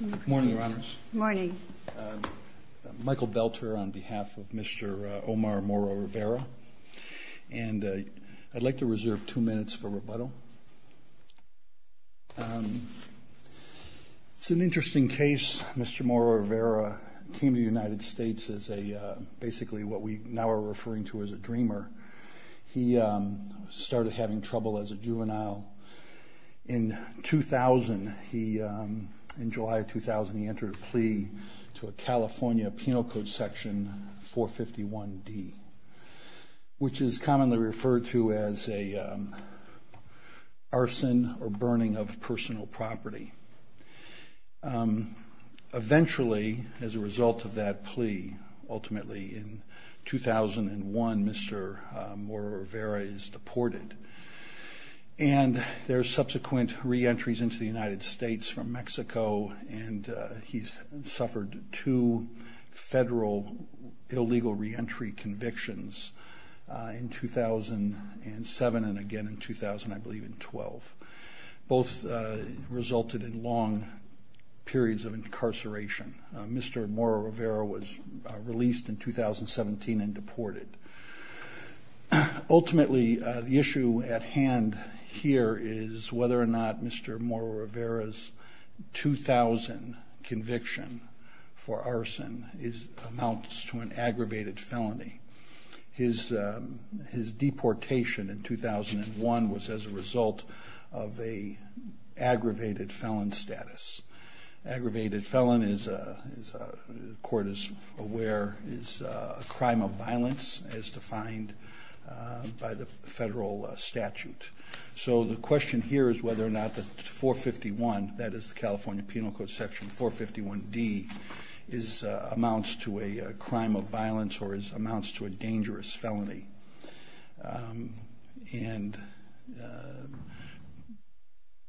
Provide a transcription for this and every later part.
Good morning, Your Honors. Good morning. Michael Belter on behalf of Mr. Omar Mora-Rivera. And I'd like to reserve two minutes for rebuttal. It's an interesting case. Mr. Mora-Rivera came to the United States as basically what we now are referring to as a dreamer. He started having trouble as a juvenile in 2000. He, in July of 2000, he entered a plea to a California Penal Code Section 451D, which is commonly referred to as an arson or burning of personal property. Eventually, as a result of that plea, ultimately in 2001, Mr. Mora-Rivera is deported. And there are subsequent reentries into the United States from Mexico, and he's suffered two federal illegal reentry convictions in 2007 and again in 2000, I believe in 2012. Both resulted in long periods of incarceration. Mr. Mora-Rivera was released in 2017 and deported. Ultimately, the issue at hand here is whether or not Mr. Mora-Rivera's 2000 conviction for arson amounts to an aggravated felony. His deportation in 2001 was as a result of an aggravated felon status. Aggravated felon, as the court is aware, is a crime of violence as defined by the federal statute. So the question here is whether or not the 451, that is the California Penal Code Section 451D, amounts to a crime of violence or amounts to a dangerous felony. And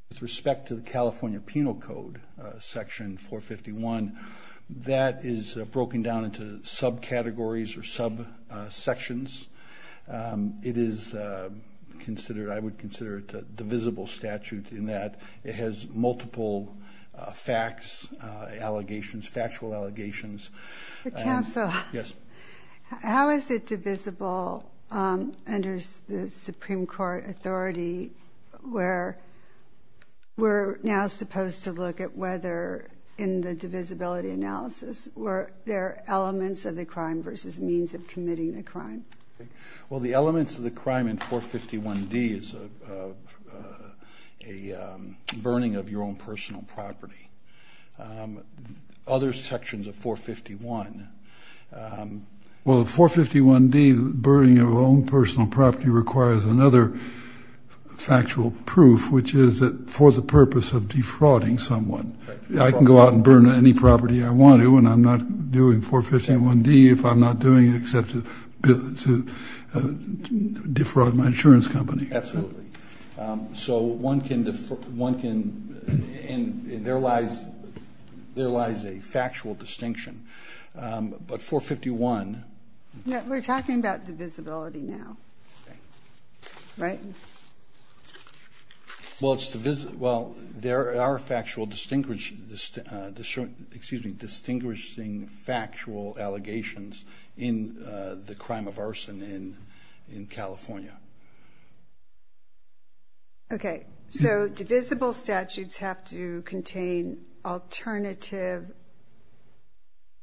with respect to the California Penal Code Section 451, that is broken down into subcategories or subsections. It is considered, I would consider it a divisible statute in that it has multiple facts, allegations, factual allegations. The counsel, how is it divisible under the Supreme Court authority where we're now supposed to look at whether, in the divisibility analysis, were there elements of the crime versus means of committing the crime? Well, the elements of the crime in 451D is a burning of your own personal property. Other sections of 451. Well, 451D, burning of your own personal property, requires another factual proof, which is for the purpose of defrauding someone. I can go out and burn any property I want to and I'm not doing 451D if I'm not doing it except to defraud my insurance company. Absolutely. So one can, and there lies a factual distinction. But 451. We're talking about divisibility now, right? Well, there are factually distinguishing factual allegations in the crime of arson in California. Okay, so divisible statutes have to contain alternative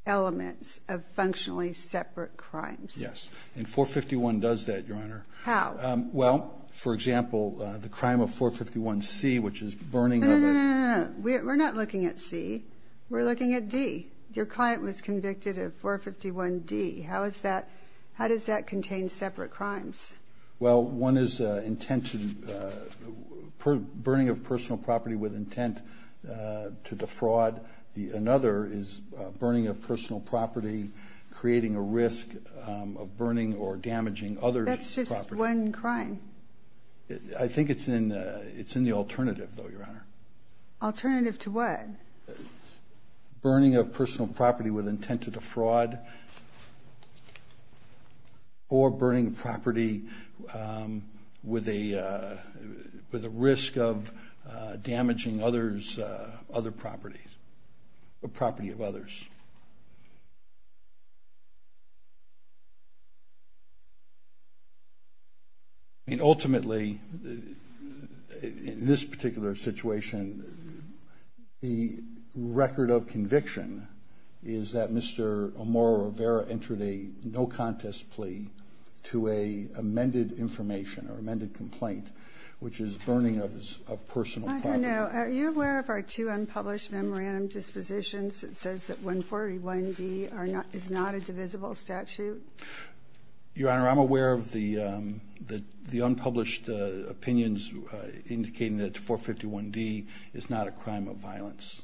elements of functionally separate crimes. Yes, and 451 does that, Your Honor. How? Well, for example, the crime of 451C, which is burning of a- No, no, no, no, no. We're not looking at C. We're looking at D. Your client was convicted of 451D. How does that contain separate crimes? Well, one is burning of personal property with intent to defraud. Another is burning of personal property, creating a risk of burning or damaging other property. That's just one crime. I think it's in the alternative, though, Your Honor. Alternative to what? Burning of personal property with intent to defraud or burning property with a risk of damaging other property, property of others. I mean, ultimately, in this particular situation, the record of conviction is that Mr. O'Mara Rivera entered a no-contest plea to an amended information or amended complaint, which is burning of personal property. I don't know. Are you aware of our two unpublished memorandum dispositions that says that 141D is not a divisible statute? Your Honor, I'm aware of the unpublished opinions indicating that 451D is not a crime of violence.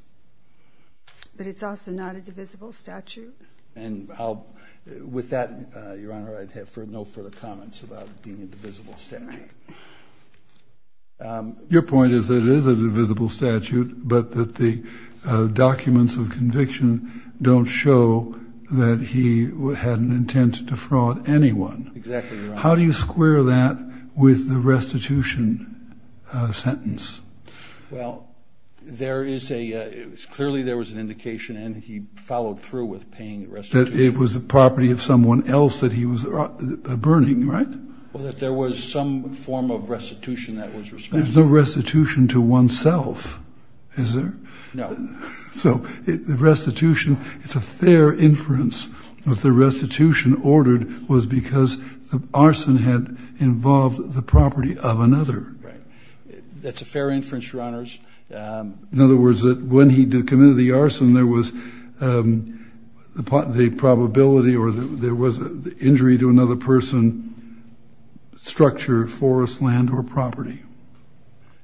But it's also not a divisible statute? And with that, Your Honor, I have no further comments about it being a divisible statute. Your point is that it is a divisible statute, but that the documents of conviction don't show that he had an intent to defraud anyone. Exactly, Your Honor. How do you square that with the restitution sentence? Well, there is a – clearly there was an indication, and he followed through with paying restitution. That it was the property of someone else that he was burning, right? Well, that there was some form of restitution that was responsible. There's no restitution to oneself, is there? No. So the restitution – it's a fair inference that the restitution ordered was because the arson had involved the property of another. Right. That's a fair inference, Your Honors. In other words, that when he committed the arson, there was the probability or there was injury to another person, structure, forest, land, or property.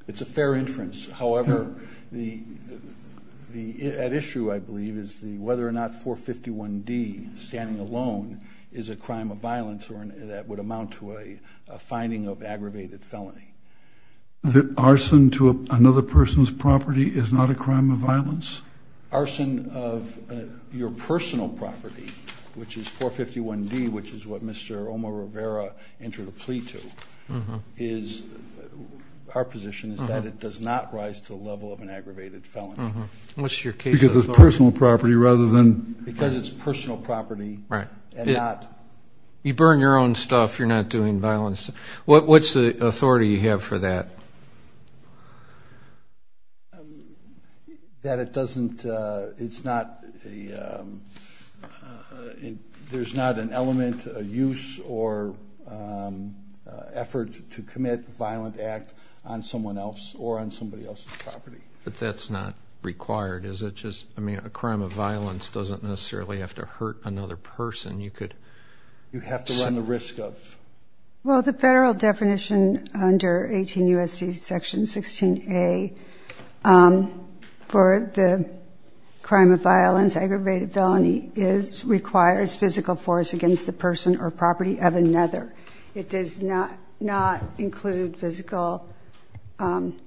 It's a fair inference. However, the – at issue, I believe, is whether or not 451D, standing alone, is a crime of violence that would amount to a finding of aggravated felony. The arson to another person's property is not a crime of violence? Arson of your personal property, which is 451D, which is what Mr. Omar Rivera entered a plea to, is – our position is that it does not rise to the level of an aggravated felony. Because it's personal property rather than – Because it's personal property and not – You burn your own stuff, you're not doing violence. What's the authority you have for that? That it doesn't – it's not a – there's not an element of use or effort to commit a violent act on someone else or on somebody else's property. But that's not required, is it? Just – I mean, a crime of violence doesn't necessarily have to hurt another person. You could – You have to run the risk of. Well, the Federal definition under 18 U.S.C. Section 16A for the crime of violence, aggravated felony, is – requires physical force against the person or property of another. It does not – not include physical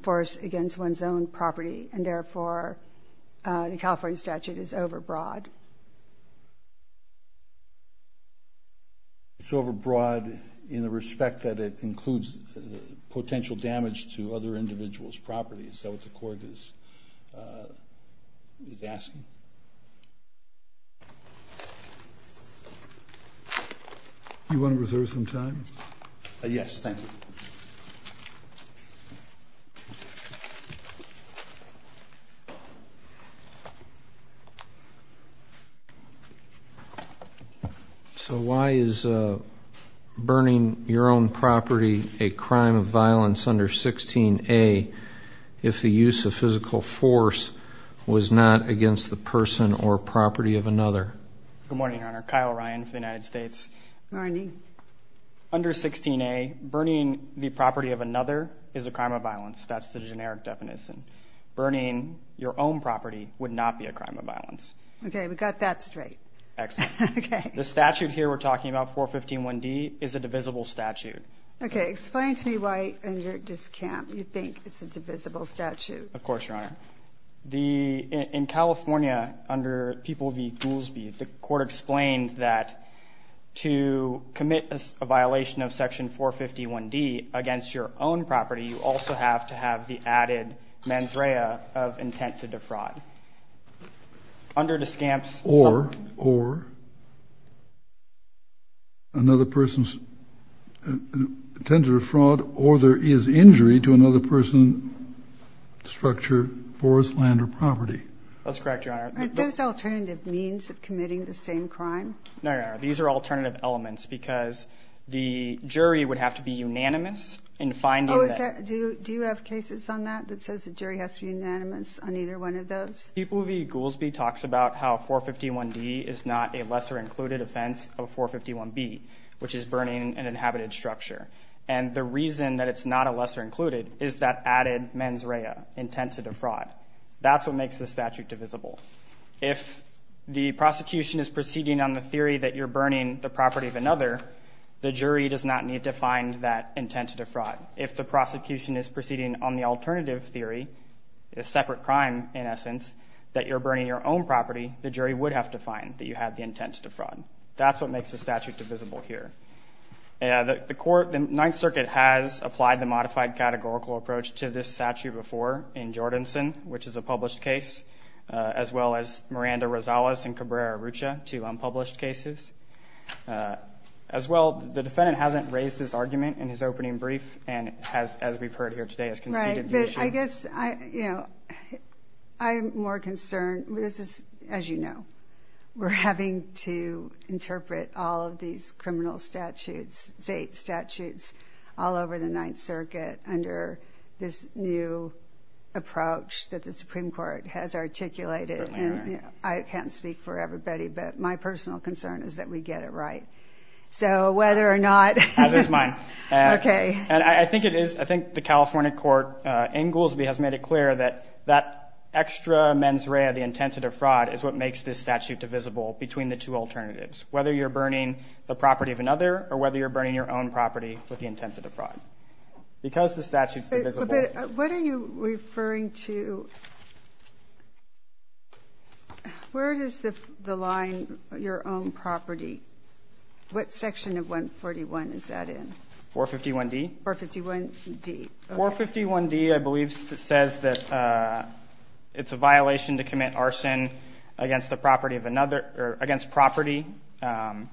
force against one's own property. And therefore, the California statute is overbroad. It's overbroad in the respect that it includes potential damage to other individuals' property. Is that what the court is asking? Do you want to reserve some time? Yes, thank you. So why is burning your own property a crime of violence under 16A if the use of physical force was not against the person or property of another? Good morning, Your Honor. Kyle Ryan for the United States. Morning. Under 16A, burning the property of another is a crime of violence. That's the generic definition. Burning your own property would not be a crime of violence. Okay, we got that straight. Excellent. The statute here we're talking about, 4151D, is a divisible statute. Okay, explain to me why under DSCAMP you think it's a divisible statute. Of course, Your Honor. The – in California, under People v. Goolsbee, the court explained that to commit a violation of Section 451D against your own property, you also have to have the added mens rea of intent to defraud. Under DSCAMP, something? Or another person's intent to defraud or there is injury to another person, structure, forest, land, or property. That's correct, Your Honor. Are those alternative means of committing the same crime? No, Your Honor. These are alternative elements because the jury would have to be unanimous in finding that. Do you have cases on that that says the jury has to be unanimous on either one of those? People v. Goolsbee talks about how 451D is not a lesser included offense of 451B, which is burning an inhabited structure. And the reason that it's not a lesser included is that added mens rea, intent to defraud. That's what makes the statute divisible. If the prosecution is proceeding on the theory that you're burning the property of another, the jury does not need to find that intent to defraud. If the prosecution is proceeding on the alternative theory, a separate crime in essence, that you're burning your own property, the jury would have to find that you have the intent to defraud. That's what makes the statute divisible here. The Ninth Circuit has applied the modified categorical approach to this statute before in Jordanson, which is a published case, as well as Miranda-Rosales and Cabrera-Rucha, two unpublished cases. As well, the defendant hasn't raised this argument in his opening brief and, as we've heard here today, has conceded the issue. Right, but I guess, you know, I'm more concerned. This is, as you know, we're having to interpret all of these criminal statutes, state statutes, all over the Ninth Circuit under this new approach that the Supreme Court has articulated. I can't speak for everybody, but my personal concern is that we get it right. So whether or not. As is mine. Okay. And I think it is, I think the California court in Goolsbee has made it clear that that extra mens rea, the intent to defraud, is what makes this statute divisible between the two alternatives, whether you're burning the property of another or whether you're burning your own property with the intent to defraud. Because the statute's divisible. What are you referring to? Where does the line, your own property, what section of 141 is that in? 451D. 451D. 451D, I believe, says that it's a violation to commit arson against the property of another, or against property, and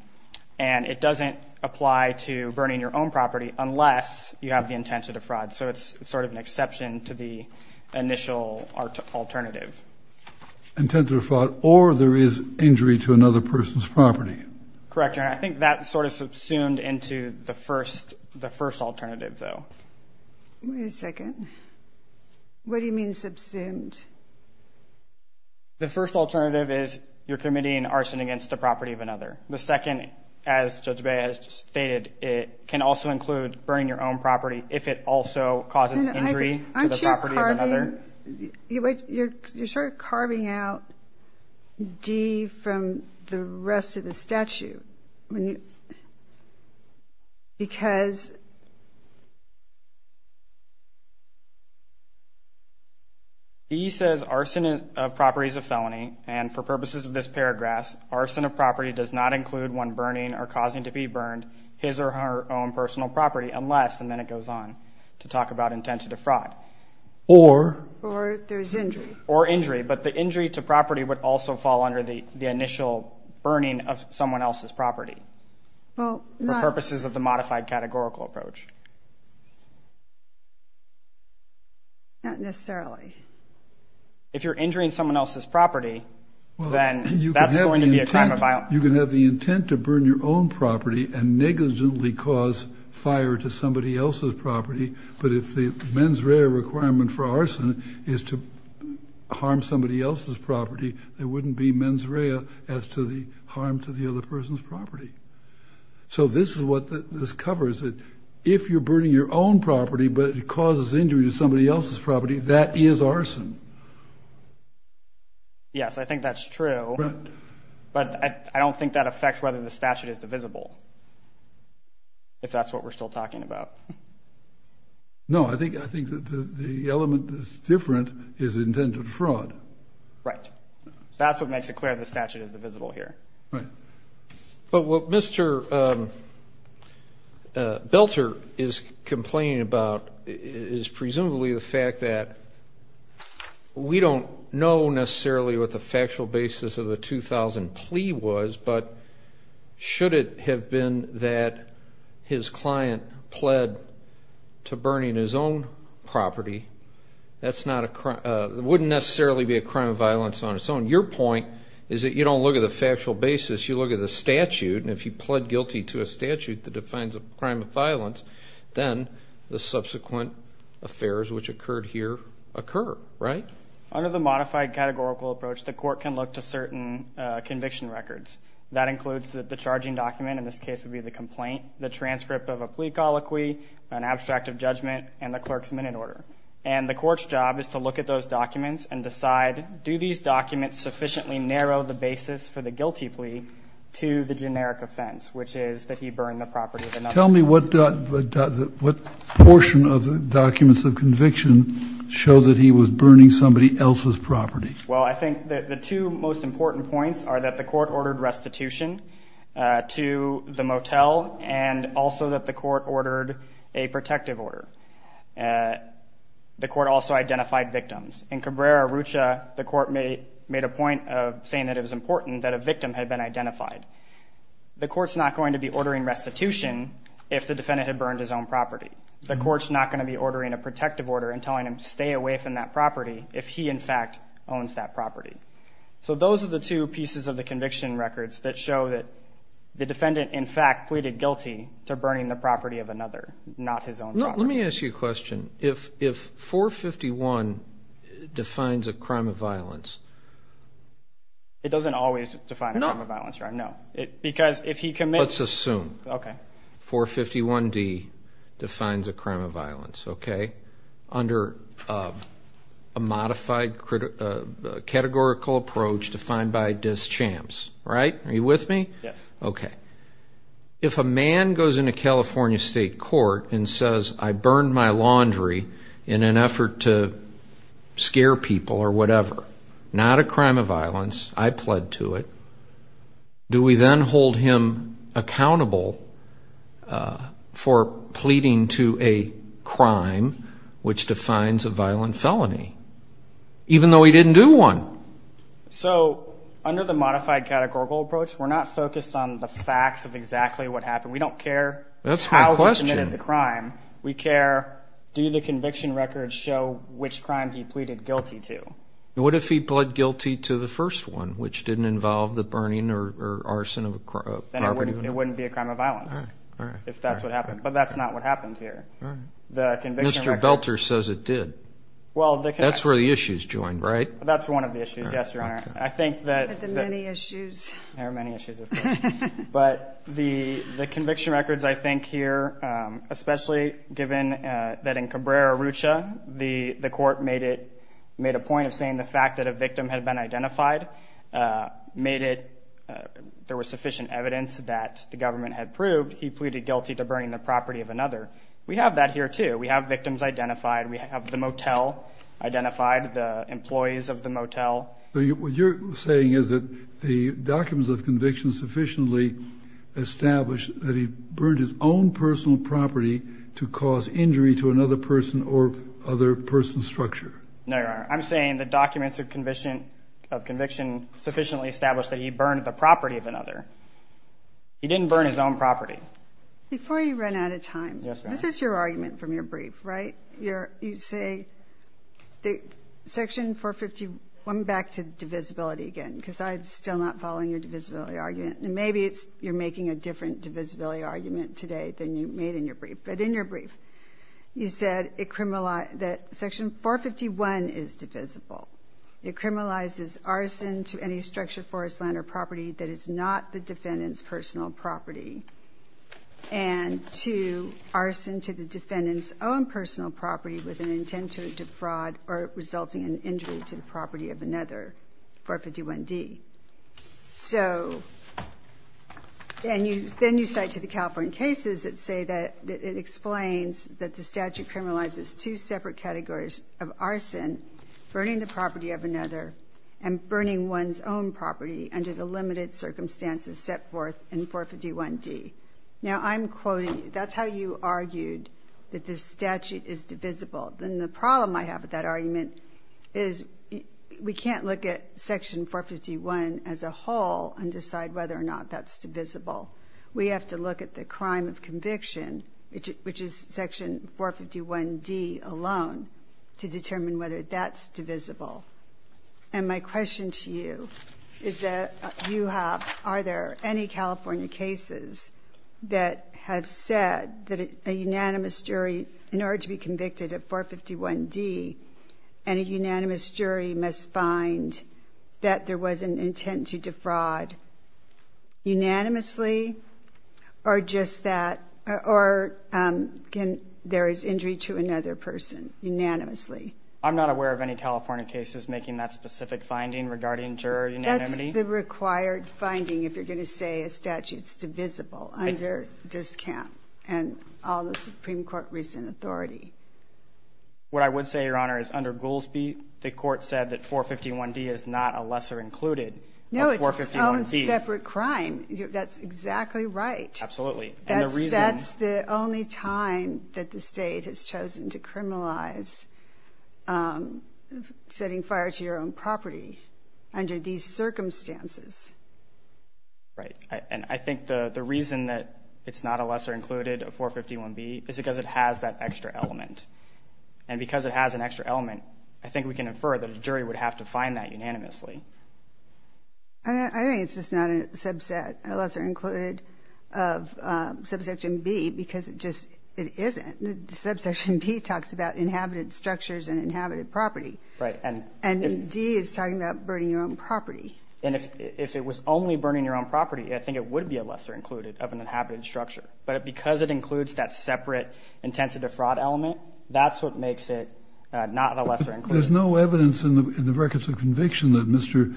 it doesn't apply to burning your own property unless you have the intent to defraud. So it's sort of an exception to the initial alternative. Intent to defraud or there is injury to another person's property. Correct, Your Honor. I think that sort of subsumed into the first alternative, though. Wait a second. What do you mean subsumed? The first alternative is you're committing arson against the property of another. The second, as Judge Bey has stated, it can also include burning your own property if it also causes injury to the property of another. Aren't you carving, you're sort of carving out D from the rest of the statute because D says arson of property is a felony, and for purposes of this paragraph, arson of property does not include one burning or causing to be burned his or her own personal property unless, and then it goes on to talk about intent to defraud. Or there's injury. Or injury, but the injury to property would also fall under the initial burning of someone else's property. For purposes of the modified categorical approach. Not necessarily. If you're injuring someone else's property, then that's going to be a crime of violence. You can have the intent to burn your own property and negligently cause fire to somebody else's property, but if the mens rea requirement for arson is to harm somebody else's property, there wouldn't be mens rea as to the harm to the other person's property. So this is what this covers. If you're burning your own property but it causes injury to somebody else's property, that is arson. Yes, I think that's true. But I don't think that affects whether the statute is divisible, if that's what we're still talking about. No, I think the element that's different is intent to defraud. Right. That's what makes it clear the statute is divisible here. Right. But what Mr. Belter is complaining about is presumably the fact that we don't know necessarily what the factual basis of the 2000 plea was, but should it have been that his client pled to burning his own property, that wouldn't necessarily be a crime of violence on its own. Your point is that you don't look at the factual basis, you look at the statute, and if you pled guilty to a statute that defines a crime of violence, then the subsequent affairs which occurred here occur, right? Under the modified categorical approach, the court can look to certain conviction records. That includes the charging document, in this case it would be the complaint, the transcript of a plea colloquy, an abstract of judgment, and the clerk's minute order. And the court's job is to look at those documents and decide, do these documents sufficiently narrow the basis for the guilty plea to the generic offense, which is that he burned the property of another person. Tell me what portion of the documents of conviction show that he was burning somebody else's property. Well, I think the two most important points are that the court ordered restitution to the motel and also that the court ordered a protective order. The court also identified victims. In Cabrera-Rucha, the court made a point of saying that it was important that a victim had been identified. The court's not going to be ordering restitution if the defendant had burned his own property. The court's not going to be ordering a protective order and telling him to stay away from that property if he, in fact, owns that property. So those are the two pieces of the conviction records that show that the defendant, in fact, pleaded guilty to burning the property of another, not his own property. Let me ask you a question. If 451D defines a crime of violence... It doesn't always define a crime of violence, right? No. Because if he commits... Let's assume 451D defines a crime of violence, okay? Under a modified categorical approach defined by DIS CHAMPS, right? Are you with me? Yes. Okay. If a man goes into California State Court and says, I burned my laundry in an effort to scare people or whatever, not a crime of violence, I pled to it, do we then hold him accountable for pleading to a crime which defines a violent felony, even though he didn't do one? So under the modified categorical approach, we're not focused on the facts of exactly what happened. We don't care how he committed the crime. That's my question. We care, do the conviction records show which crime he pleaded guilty to? What if he pled guilty to the first one, which didn't involve the burning or arson of a property? Then it wouldn't be a crime of violence if that's what happened. But that's not what happened here. Mr. Belter says it did. That's where the issues joined, right? That's one of the issues, yes, Your Honor. I think that... There are many issues. There are many issues, of course. But the conviction records I think here, especially given that in Cabrera-Rucha, the court made it, made a point of saying the fact that a victim had been identified made it, there was sufficient evidence that the government had proved he pleaded guilty to burning the property of another. We have that here too. We have victims identified. We have the motel identified, the employees of the motel. What you're saying is that the documents of conviction sufficiently established that he burned his own personal property to cause injury to another person or other person's structure. No, Your Honor. I'm saying the documents of conviction sufficiently established that he burned the property of another. He didn't burn his own property. Before you run out of time, this is your argument from your brief, right? You say that Section 451, back to divisibility again, because I'm still not following your divisibility argument. And maybe you're making a different divisibility argument today than you made in your brief. But in your brief, you said that Section 451 is divisible. It criminalizes arson to any structure, forest, land, or property that is not the defendant's personal property and to arson to the defendant's own personal property with an intent to defraud or resulting in injury to the property of another, 451D. So then you cite to the California cases that say that it explains that the statute criminalizes two separate categories of arson, burning the property of another, and burning one's own property under the limited circumstances set forth in 451D. Now, I'm quoting, that's how you argued that this statute is divisible. Then the problem I have with that argument is we can't look at Section 451 as a whole and decide whether or not that's divisible. We have to look at the crime of conviction, which is Section 451D alone, to determine whether that's divisible. And my question to you is that you have, are there any California cases that have said that a unanimous jury, in order to be convicted of 451D, any unanimous jury must find that there was an intent to defraud. Unanimously, or just that, or there is injury to another person unanimously. I'm not aware of any California cases making that specific finding regarding juror unanimity. That's the required finding if you're going to say a statute's divisible under this camp and all the Supreme Court recent authority. What I would say, Your Honor, is under Goolsbee, the court said that 451D is not a lesser included of 451D. Your own separate crime. That's exactly right. Absolutely. That's the only time that the state has chosen to criminalize setting fire to your own property under these circumstances. Right. And I think the reason that it's not a lesser included of 451B is because it has that extra element. And because it has an extra element, I think we can infer that a jury would have to find that unanimously. I think it's just not a subset, a lesser included of subsection B, because it just isn't. Subsection B talks about inhabited structures and inhabited property. Right. And D is talking about burning your own property. And if it was only burning your own property, I think it would be a lesser included of an inhabited structure. But because it includes that separate intent to defraud element, that's what makes it not a lesser included. There's no evidence in the records of conviction that Mr.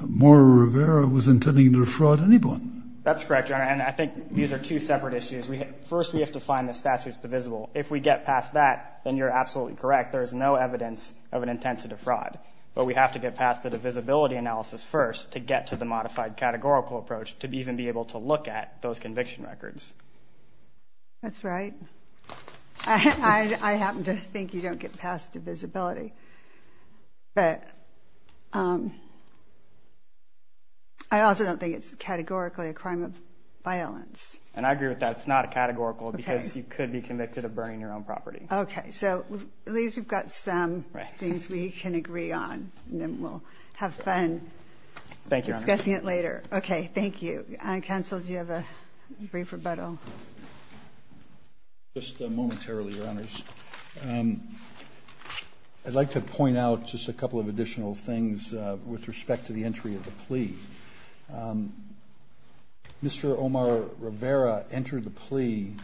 Mora Rivera was intending to defraud anyone. That's correct, Your Honor. And I think these are two separate issues. First, we have to find the statutes divisible. If we get past that, then you're absolutely correct. There is no evidence of an intent to defraud. But we have to get past the divisibility analysis first to get to the modified categorical approach to even be able to look at those conviction records. That's right. I happen to think you don't get past divisibility. But I also don't think it's categorically a crime of violence. And I agree with that. It's not a categorical because you could be convicted of burning your own property. Okay. So at least we've got some things we can agree on, and then we'll have fun discussing it later. Thank you, Your Honor. Okay. Thank you. Counsel, do you have a brief rebuttal? Just momentarily, Your Honors. I'd like to point out just a couple of additional things with respect to the entry of the plea. Mr. Omar Rivera entered the plea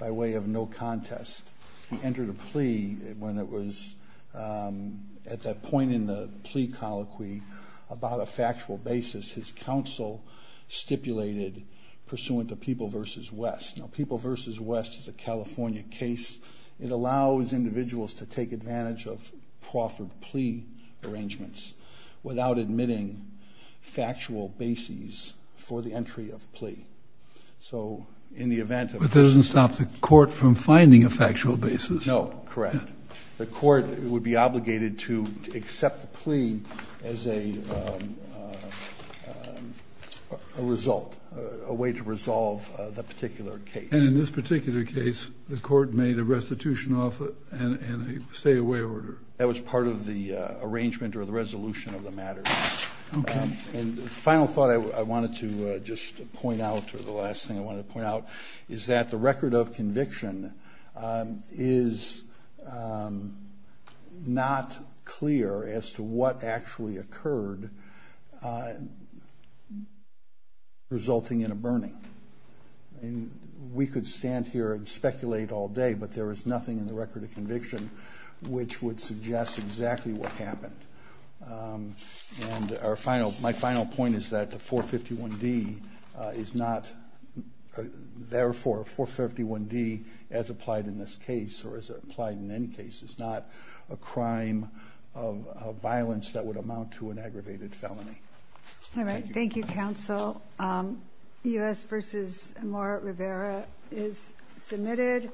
by way of no contest. He entered a plea when it was at that point in the plea colloquy about a factual basis his counsel stipulated pursuant to People v. West. Now, People v. West is a California case. It allows individuals to take advantage of proffered plea arrangements without admitting factual bases for the entry of plea. But that doesn't stop the court from finding a factual basis. No, correct. The court would be obligated to accept the plea as a result, a way to resolve the particular case. And in this particular case, the court made a restitution off it and a stay-away order. That was part of the arrangement or the resolution of the matter. Okay. And the final thought I wanted to just point out, or the last thing I wanted to point out, is that the record of conviction is not clear as to what actually occurred, resulting in a burning. We could stand here and speculate all day, but there is nothing in the record of conviction which would suggest exactly what happened. And my final point is that the 451D is not, therefore, 451D as applied in this case, or as applied in any case, is not a crime of violence that would amount to an aggravated felony. All right. Thank you, counsel. U.S. v. Amar Rivera is submitted.